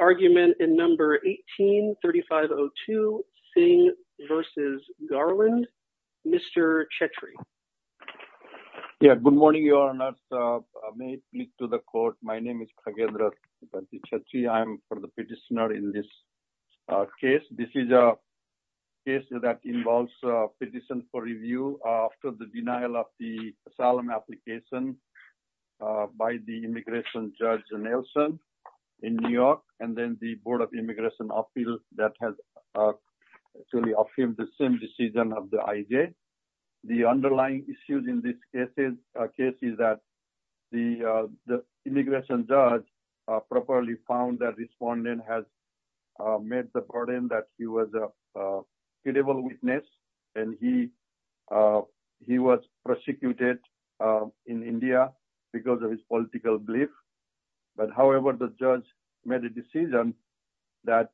argument in number 18-3502 Singh versus Garland. Mr. Chetri. Yeah, good morning, your honor. May I speak to the court? My name is Kagendra Chetri. I'm for the petitioner in this case. This is a case that involves a petition for review after the denial of the asylum application by the immigration judge Nelson in New York. And then the Board of Immigration appeal that has actually obtained the same decision of the IJ. The underlying issues in this case is that the immigration judge properly found that the respondent has made the burden that he was a credible witness and he was prosecuted in India because of his political belief. But however, the judge made a decision that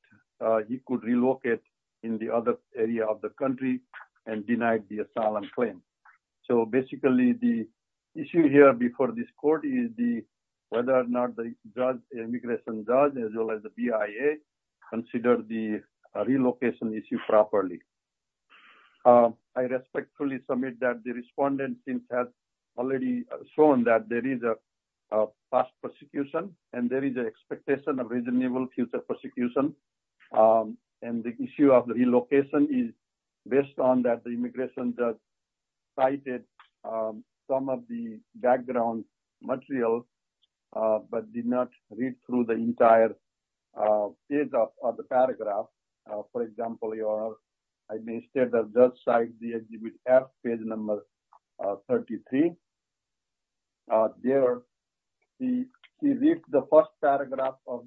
he could relocate in the other area of the country and denied the asylum claim. So basically, the issue here before this court is whether or not the immigration judge as well as the BIA consider the relocation issue properly. I respectfully submit that the respondent has already shown that there is a fast prosecution and there is an expectation of reasonable future prosecution. And the issue of relocation is based on that the immigration judge cited some of the background materials but did not read through the entire page of the paragraph. For example, I may state that the site page number 33. There, he reads the first paragraph of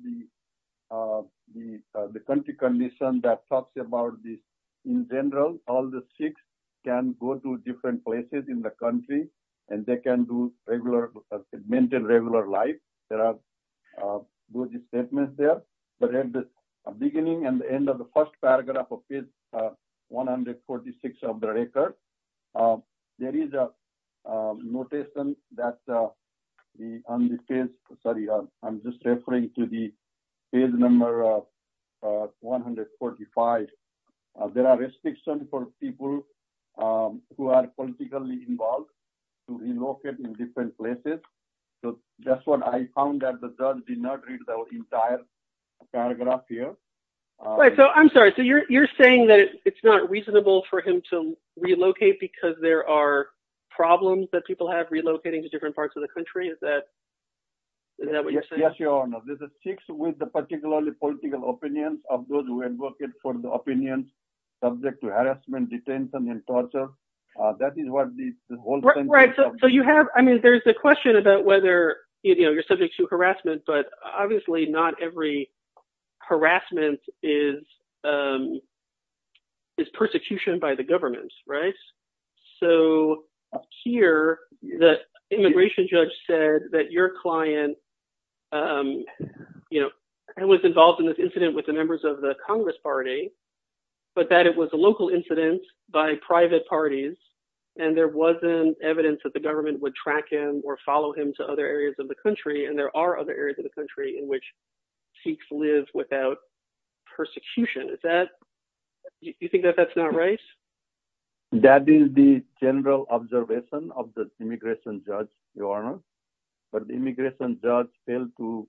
the country condition that talks about this. In general, all the Sikhs can go to different places in the country and they can maintain regular life. There are those statements there. But at the beginning and the end of the first paragraph of page 146 of the record, there is a notation that on the page, sorry, I'm just referring to the page number 145. There are restrictions for people who are politically involved to relocate in different places. So that's what I found that the judge did not read the entire paragraph here. Right. So I'm sorry. So you're saying that it's not reasonable for him to relocate because there are problems that people have relocating to different parts of the country? Is that Sikhs with the particular political opinions of those who advocate for the opinions subject to harassment, detention, and torture? That is what the whole thing is. Right. So you have, I mean, there's the question about whether you're subject to harassment, but obviously not every harassment is persecution by the government, right? So here, the immigration judge said that your client was involved in this incident with the members of the Congress party, but that it was a local incident by private parties. And there wasn't evidence that the government would track him or follow him to other areas of the country. And there are other areas of the country in which Sikhs live without persecution. Do you think that that's not right? That is the general observation of the immigration judge, Your Honor. But the immigration judge failed to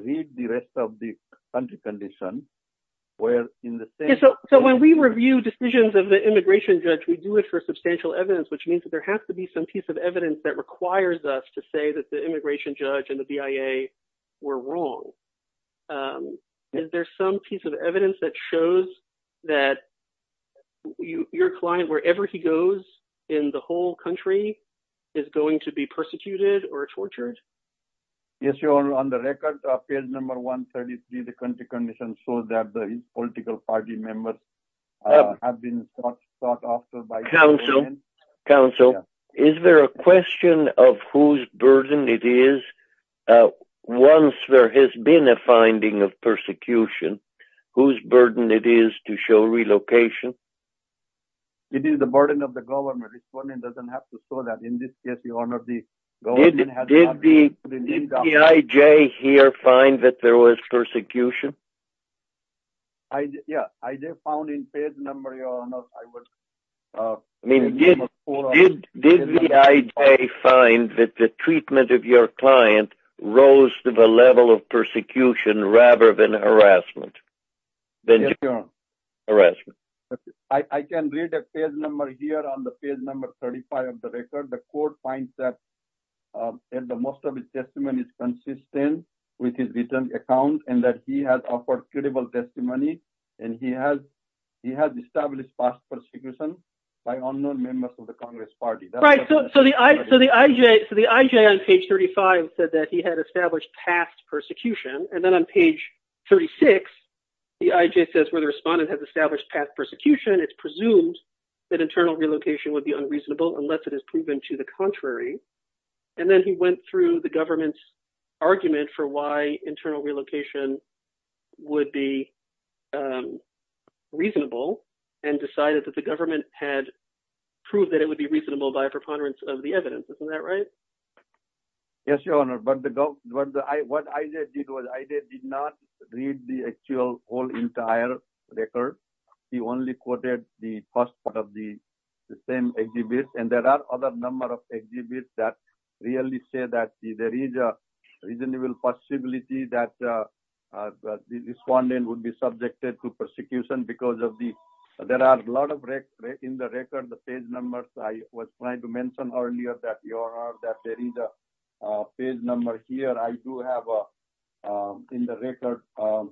read the rest of the country condition. So when we review decisions of the immigration judge, we do it for substantial evidence, which means that there has to be some piece of evidence that requires us to say that the immigration judge and the BIA were wrong. Is there some piece of evidence that your client, wherever he goes in the whole country, is going to be persecuted or tortured? Yes, Your Honor. On the record of page number 133, the country condition shows that the political party members have been sought after by the government. Counsel, is there a question of whose burden it is once there has been a finding of persecution, whose burden it is to show relocation? It is the burden of the government. This woman doesn't have to show that. In this case, Your Honor, the government has not... Did the IJ here find that there was persecution? Yeah, I found in page number, Your Honor, I was... I mean, did the IJ find that the treatment of your client rose to the level of persecution rather than harassment? Yes, Your Honor. Harassment. I can read a page number here on the page number 35 of the record. The court finds that the most of his testimony is consistent with his written account and that he has offered credible testimony and he has established past persecution by unknown members of the Congress party. Right, so the IJ on page 35 said that he had established past persecution, and then on page 36, the IJ says where the respondent has established past persecution, it's presumed that internal relocation would be unreasonable unless it is proven to the contrary. And then he went through the government's argument for why internal relocation would be reasonable and decided that the government had proved that it would be reasonable by a preponderance of the evidence. Isn't that right? Yes, Your Honor, but what I did was I did not read the actual whole entire record. He only quoted the first part of the same exhibit, and there are other numbers of exhibits that really say that there is a reasonable possibility that the respondent would be subjected to persecution because of the... There are a lot of records in the record, the page numbers. I was trying to mention earlier that, Your Honor, that there is a page number here. I do have in the record a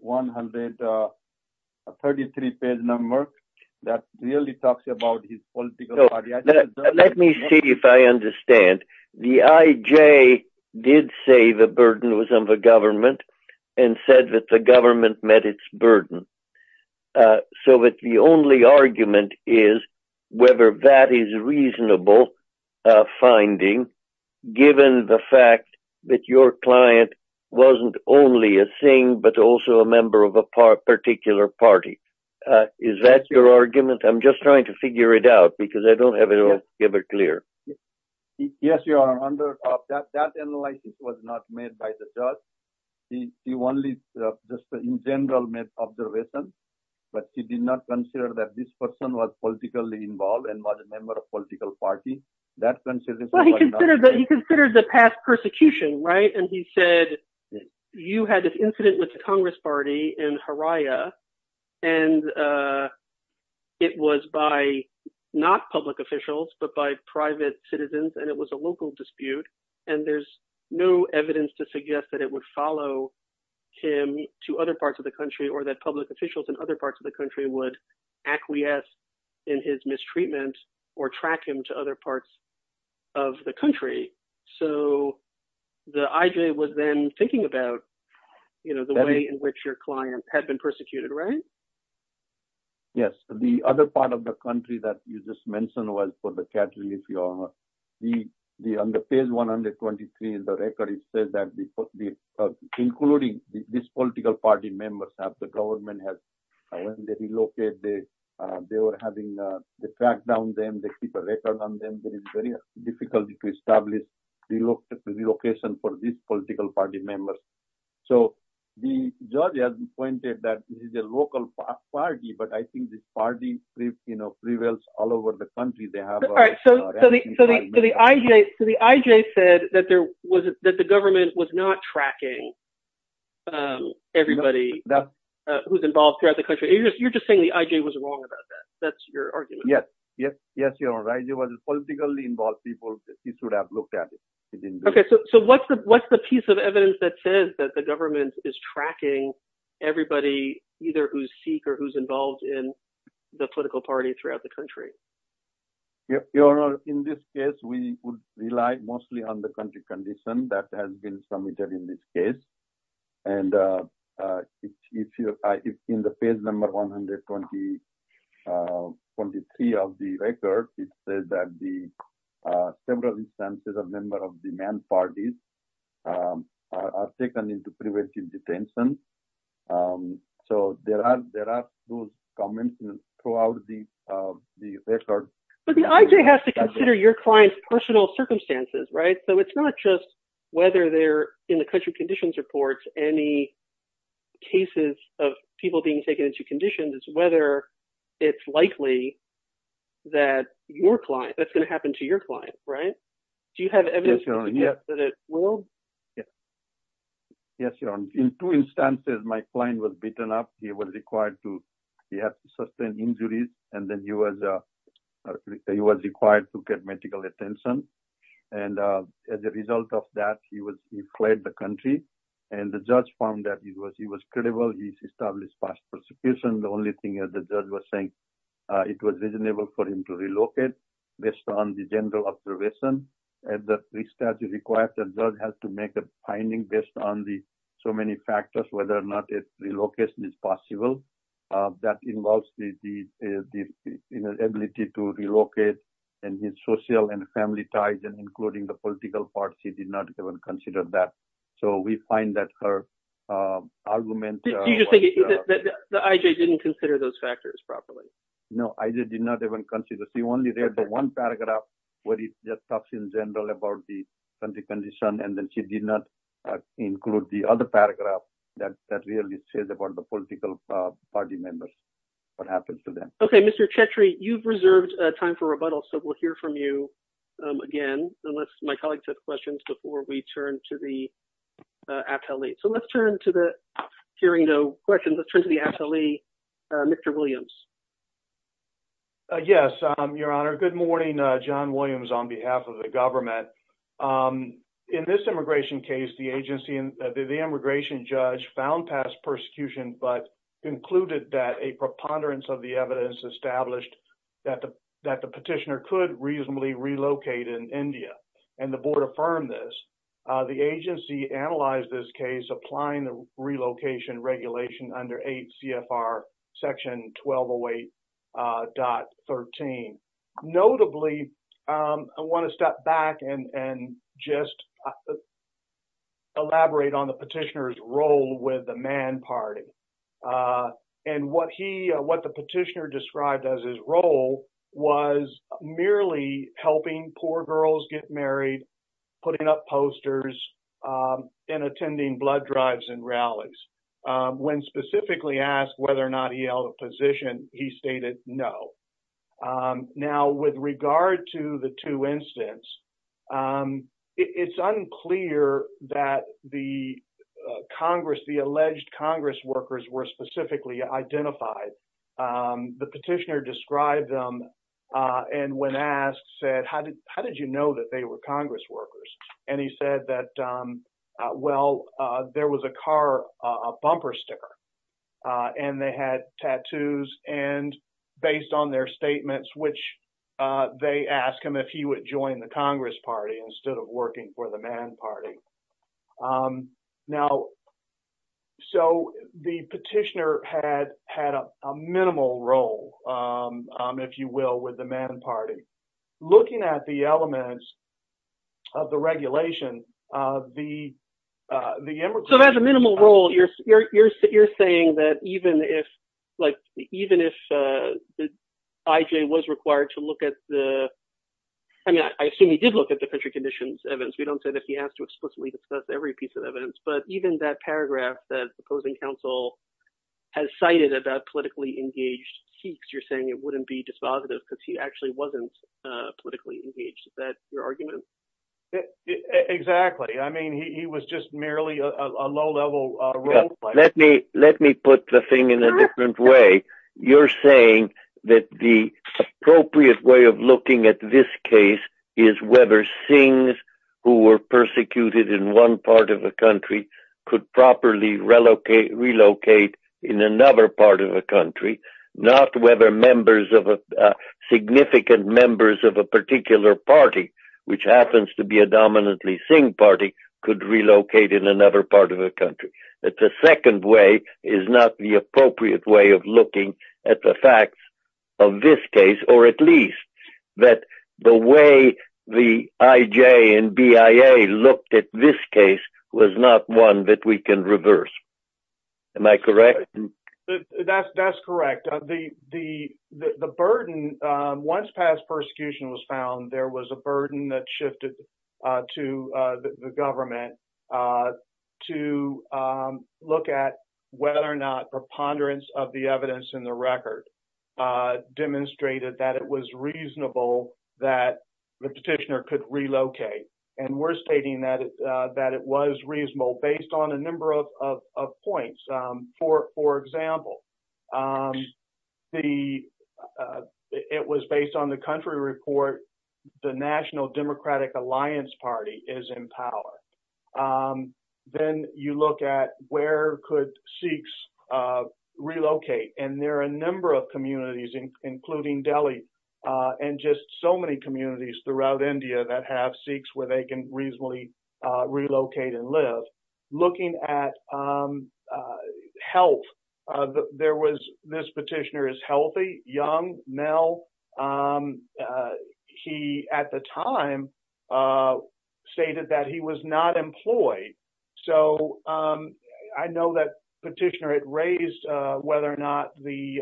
133 page number that really talks about his political party. Let me see if I understand. The IJ did say the burden was on the government and said that the government met its burden, so that the only argument is whether that is a reasonable finding given the fact that your client wasn't only a Singh but also a member of a particular party. Is that your argument? I'm just trying to figure it out because I don't have it all given clear. Yes, Your Honor, that analysis was not made by the judge. He only just in general made observations, but he did not consider that this person was politically involved and was a member of a political party. He considered the past persecution, right? And he said you had this incident with the Congress party in Haria, and it was by not public officials, but by private citizens, and it was a local dispute, and there's no evidence to suggest that it would follow him to other parts of the country or that public officials in other parts of the country would acquiesce in his mistreatment or track him to other parts of the country. So, the IJ was then thinking about the way in which your client had been persecuted, right? Yes. The other part of the country that you just mentioned was for the cat relief, Your Honor. The on the page 123 in the record, it says that including this political party members have the government has relocated. They were having the track down them. They keep a record on them. There is very difficult to establish relocation for these political party members. So, the judge has pointed that this is a local party, but I think this party prevails all over the country. All right. So, the IJ said that the government was not tracking everybody who's involved throughout the country. You're just saying the IJ was wrong about that. That's your argument? Yes. Yes, Your Honor. IJ was politically involved people. He should have looked at it. Okay. So, what's the piece of evidence that says that the government is tracking everybody either who's Sikh or who's involved in the political party throughout the country? In this case, we would rely mostly on the country condition that has been submitted in this case. And in the page number 123 of the record, it says that the several instances of member of the man parties are taken into preventive detention. So, there are those comments throughout the record. But the IJ has to consider your client's personal circumstances, right? So, it's not just whether they're in the country conditions reports any cases of people being taken into conditions, it's whether it's likely that that's going to happen to your client, right? Do you have evidence that it will? Yes. Yes, Your Honor. In two instances, my client was beaten up. He was required to... He had to sustain injuries and then he was required to get medical attention. And as a result of that, he fled the country. And the judge found that he was credible. He's established fast prosecution. The only thing is the judge was saying it was reasonable for him to relocate based on the general observation. And the statute requires the judge has to make a finding based on the so many factors, whether or not relocation is possible. That involves the ability to relocate and his social and family ties and including the political parts. He did not even consider that. So, we find that her argument... Did you just say that the IJ didn't consider those factors properly? No, I did not even consider. He only read the one paragraph where he just talks in general about the country condition and then she did not include the other paragraph that really says about the political party members, what happens to them. Okay. Mr. Chetri, you've reserved time for rebuttal. So, we'll hear from you again, unless my colleagues have questions before we turn to the appellee. So, let's turn to the... Hearing no questions, let's turn to the appellee, Mr. Williams. Yes, Your Honor. Good morning. John Williams on behalf of the government. In this immigration case, the agency and the immigration judge found past persecution but concluded that a preponderance of the evidence established that the petitioner could reasonably relocate in India and the board affirmed this. The agency analyzed this case applying the just elaborate on the petitioner's role with the man party. And what the petitioner described as his role was merely helping poor girls get married, putting up posters, and attending blood drives and rallies. When specifically asked whether or not he held a position, he stated no. Now, with regard to the two incidents, it's unclear that the alleged Congress workers were specifically identified. The petitioner described them and when asked said, how did you know that they were Congress workers? And he said that, well, there was a car, a bumper sticker, and they had tattoos. And based on their statements, which they asked him if he would join the Congress party instead of working for the man party. Now, so the petitioner had a minimal role, if you will, with the man party. Looking at the elements of the regulation, the immigration... Like, even if the IJ was required to look at the... I mean, I assume he did look at the petri conditions evidence. We don't say that he has to explicitly discuss every piece of evidence, but even that paragraph that the opposing counsel has cited about politically engaged peaks, you're saying it wouldn't be dispositive because he actually wasn't politically engaged. Is that your argument? Exactly. I mean, he was just merely a low-level role player. Let me put the thing in a different way. You're saying that the appropriate way of looking at this case is whether Singhs who were persecuted in one part of the country could properly relocate in another part of the country, not whether members of a significant members of a particular party, which happens to be a dominantly Singh party, could relocate in that the second way is not the appropriate way of looking at the facts of this case, or at least that the way the IJ and BIA looked at this case was not one that we can reverse. Am I correct? That's correct. The burden, once past persecution was found, there was a burden that shifted to the government to look at whether or not preponderance of the evidence in the record demonstrated that it was reasonable that the petitioner could relocate. And we're stating that it was reasonable based on a number of points. For example, it was based on the country report, the National Democratic Alliance Party is in power. Then you look at where could Sikhs relocate. And there are a number of communities, including Delhi, and just so many communities throughout India that have Sikhs where they can reasonably relocate and live. Looking at the health, there was this petitioner is healthy, young male. He at the time stated that he was not employed. So I know that petitioner it raised whether or not the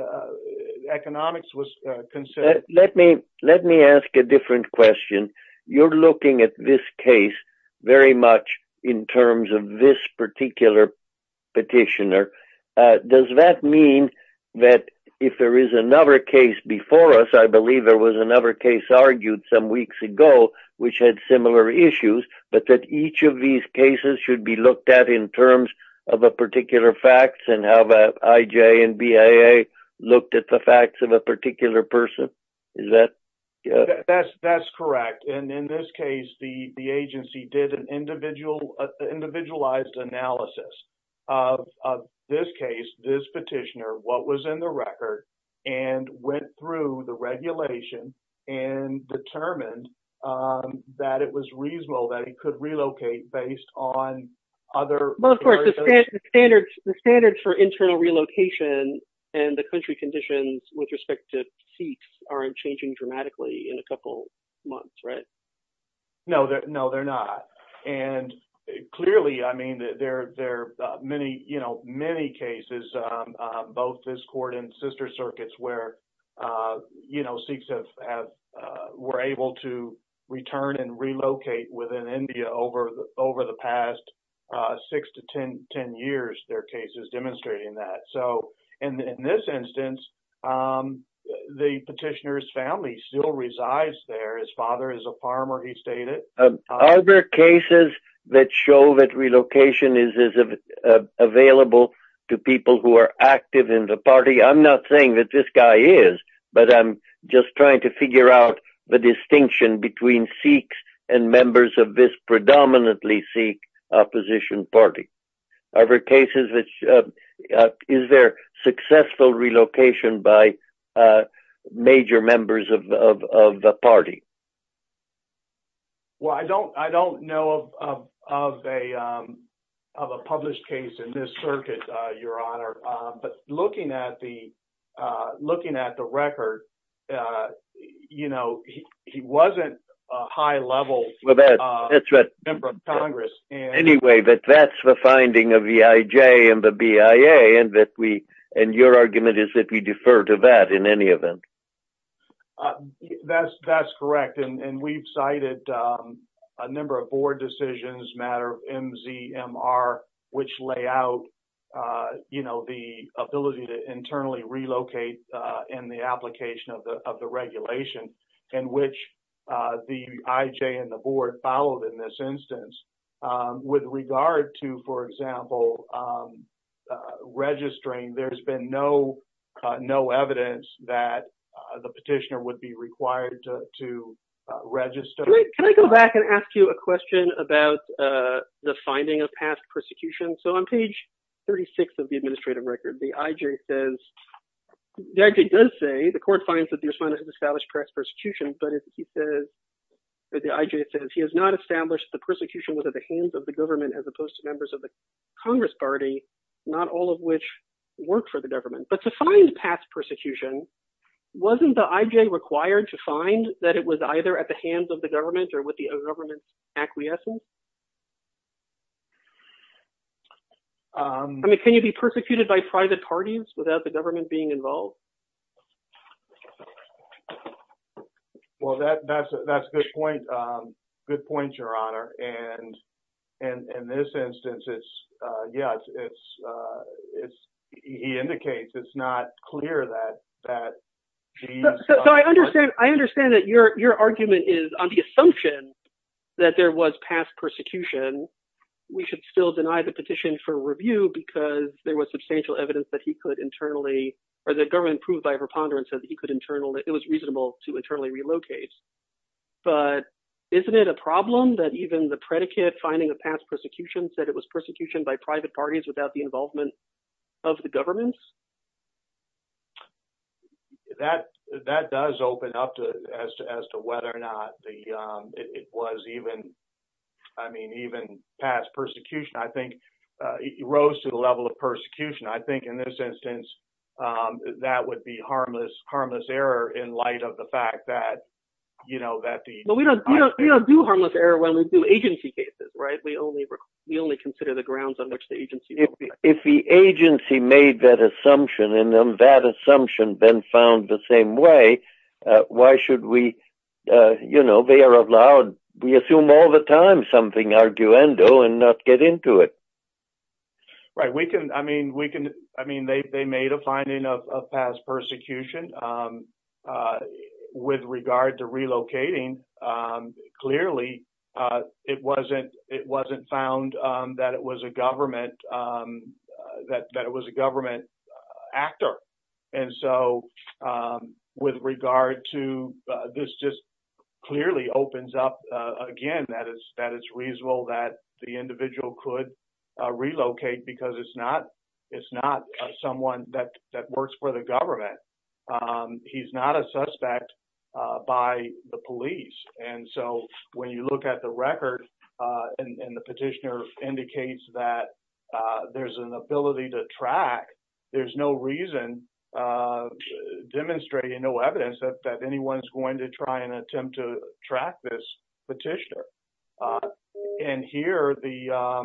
economics was considered. Let me let me ask a different question. You're looking at this case, very much in terms of this particular petitioner. Does that mean that if there is another case before us, I believe there was another case argued some weeks ago, which had similar issues, but that each of these cases should be looked at in terms of a particular facts and have a IJ and BIA looked at the facts of a particular person? Is that that's that's correct. And in this case, the agency did an individualized analysis of this case, this petitioner, what was in the record, and went through the regulation and determined that it was reasonable that he could relocate based on other standards, the standards for internal relocation and the country conditions with respect to Sikhs aren't changing dramatically in a couple months, right? No, no, they're not. And clearly, I mean, there are many, you know, many cases, both this court and sister circuits where, you know, Sikhs have were able to return and relocate within India over over the past six to 1010 years, their cases demonstrating that. So in this instance, the petitioner's family still resides there. His father is a farmer, he stated. Are there cases that show that relocation is available to people who are active in the party? I'm not saying that this guy is, but I'm just trying to figure out the distinction between Sikhs and members of this predominantly Sikh opposition party. Are there cases which is their successful relocation by major members of the party? Well, I don't I don't know of a of a published case in this circuit, Your Honor. But looking at the looking at the record, you know, he wasn't a high level member of Congress. Anyway, but that's the finding of the IJ and the BIA and that we and your argument is that we defer to that in any event. That's that's correct. And we've cited a number of board decisions matter MZMR, which lay out, you know, the ability to internally relocate in the application of the of the regulation in which the IJ and the board followed in this instance. With regard to, for example, registering, there's been no no evidence that the petitioner would be required to register. Can I go back and ask you a question about the finding of past persecution? So on page 36 of the administrative record, the IJ says, the IJ does say, the court finds that the established the persecution was at the hands of the government as opposed to members of the Congress party, not all of which work for the government. But to find past persecution, wasn't the IJ required to find that it was either at the hands of the government or with the government's acquiescence? I mean, can you be persecuted by private parties without the And in this instance, it's, yeah, it's, it's, it's, he indicates it's not clear that that. So I understand, I understand that your your argument is on the assumption that there was past persecution, we should still deny the petition for review, because there was substantial evidence that he could internally, or the government proved by preponderance that he could internal that it was reasonable to internally relocate. But isn't it a problem that even the predicate finding the past persecution said it was persecution by private parties without the involvement of the government? That that does open up to as to as to whether or not the it was even, I mean, even past persecution, I think, rose to the level of persecution, I think, in this instance, that would be harmless, harmless error in light of the fact that, you know, that the But we don't do harmless error when we do agency cases, right? We only, we only consider the grounds on which the agency if the agency made that assumption, and then that assumption been found the same way. Why should we, you know, they are allowed, we assume all the time something and not get into it. Right, we can, I mean, we can, I mean, they made a finding of past persecution. With regard to relocating, clearly, it wasn't, it wasn't found that it was a government that that it was a government actor. And so with regard to this just clearly opens up again, that is that it's reasonable that the individual could relocate because it's not, it's not someone that that works for the government. He's not a suspect by the police. And so when you look at the record, and the petitioner indicates that there's an ability to track, there's no reason of demonstrating no evidence that anyone's going to try and attempt to track this petitioner. And here the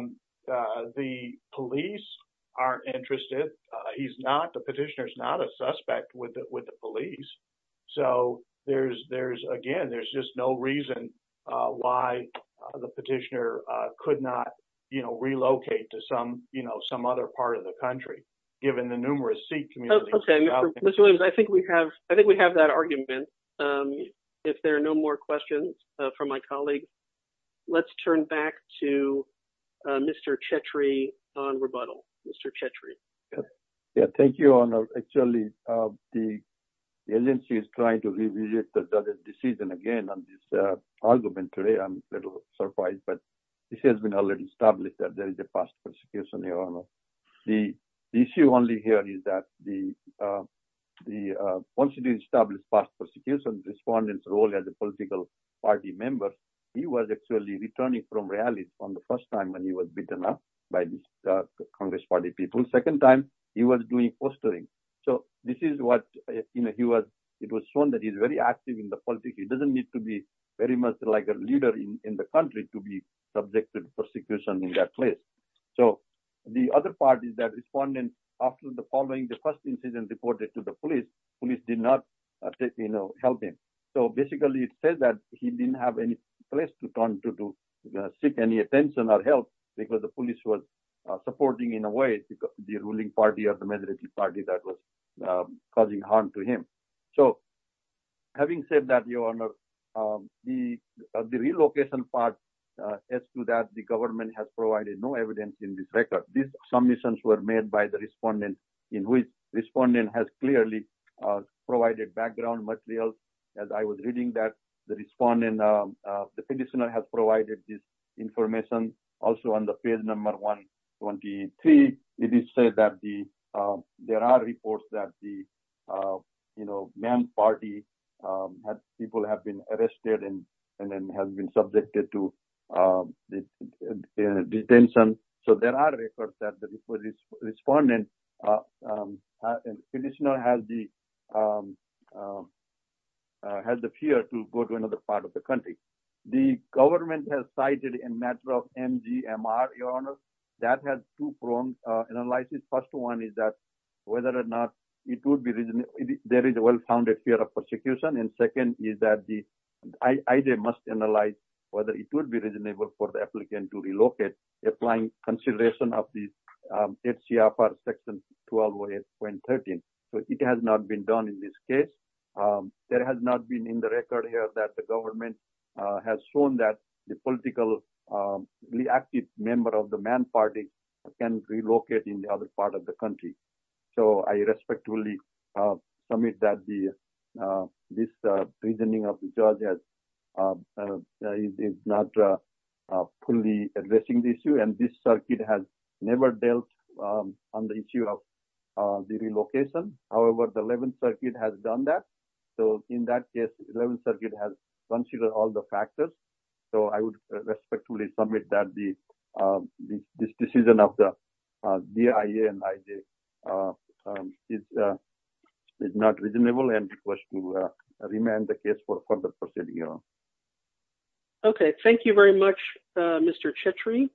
the police are interested. He's not the petitioner is not a suspect with it with the police. So there's, there's, again, there's just no reason why the petitioner could not, you know, relocate to some, you know, some other part of the country, given the numerous seat communities. Okay, Mr. Williams, I think we have I think we have that argument. If there are no more questions from my colleague, let's turn back to Mr. Chetri on rebuttal, Mr. Chetri. Yeah, thank you. Actually, the agency is trying to revisit the decision again on this argument today. I'm a little surprised, but it has been already established that there issue only here is that the, the once it is established past persecution respondents role as a political party member, he was actually returning from rallies on the first time when he was beaten up by the Congress party people second time, he was doing fostering. So this is what you know, he was, it was shown that he's very active in the politics, he doesn't need to be very much like a leader in the country to be subjected to persecution in that place. So the other part is that respondent after the following the first incident reported to the police police did not take me no helping. So basically, it says that he didn't have any place to turn to seek any attention or help, because the police was supporting in a way the ruling party or the majority party that was causing harm to him. So having said that, Your Honor, the relocation part is to that the government has provided no evidence in this submissions were made by the respondent in which respondent has clearly provided background materials. As I was reading that the respondent, the petitioner has provided this information. Also on the page number 123, it is said that the there are reports that the, you know, man party people have been arrested and, and then have been subjected to detention. So there are reports that the respondent petitioner has the has the fear to go to another part of the country. The government has cited a matter of MGMR, Your Honor, that has two prongs. And unless his first one is that, whether or not it would be there is a well founded fear of persecution. And second is that the idea must analyze whether it would be reasonable for the applicant to relocate, applying consideration of the ACFR section 12.13. So it has not been done in this case. There has not been in the record here that the government has shown that the political active member of the man party can relocate in the other part of the country. So I respectfully submit that the this reasoning of the judges is not fully addressing the issue. And this circuit has never dealt on the issue of the relocation. However, the 11th circuit has done that. So in that case, 11th circuit has considered all the factors. So I would respectfully submit that the this decision of the BIA and IJ is not reasonable and request to remand the case for further proceeding, Your Honor. Okay. Thank you very much, Mr. Chetri.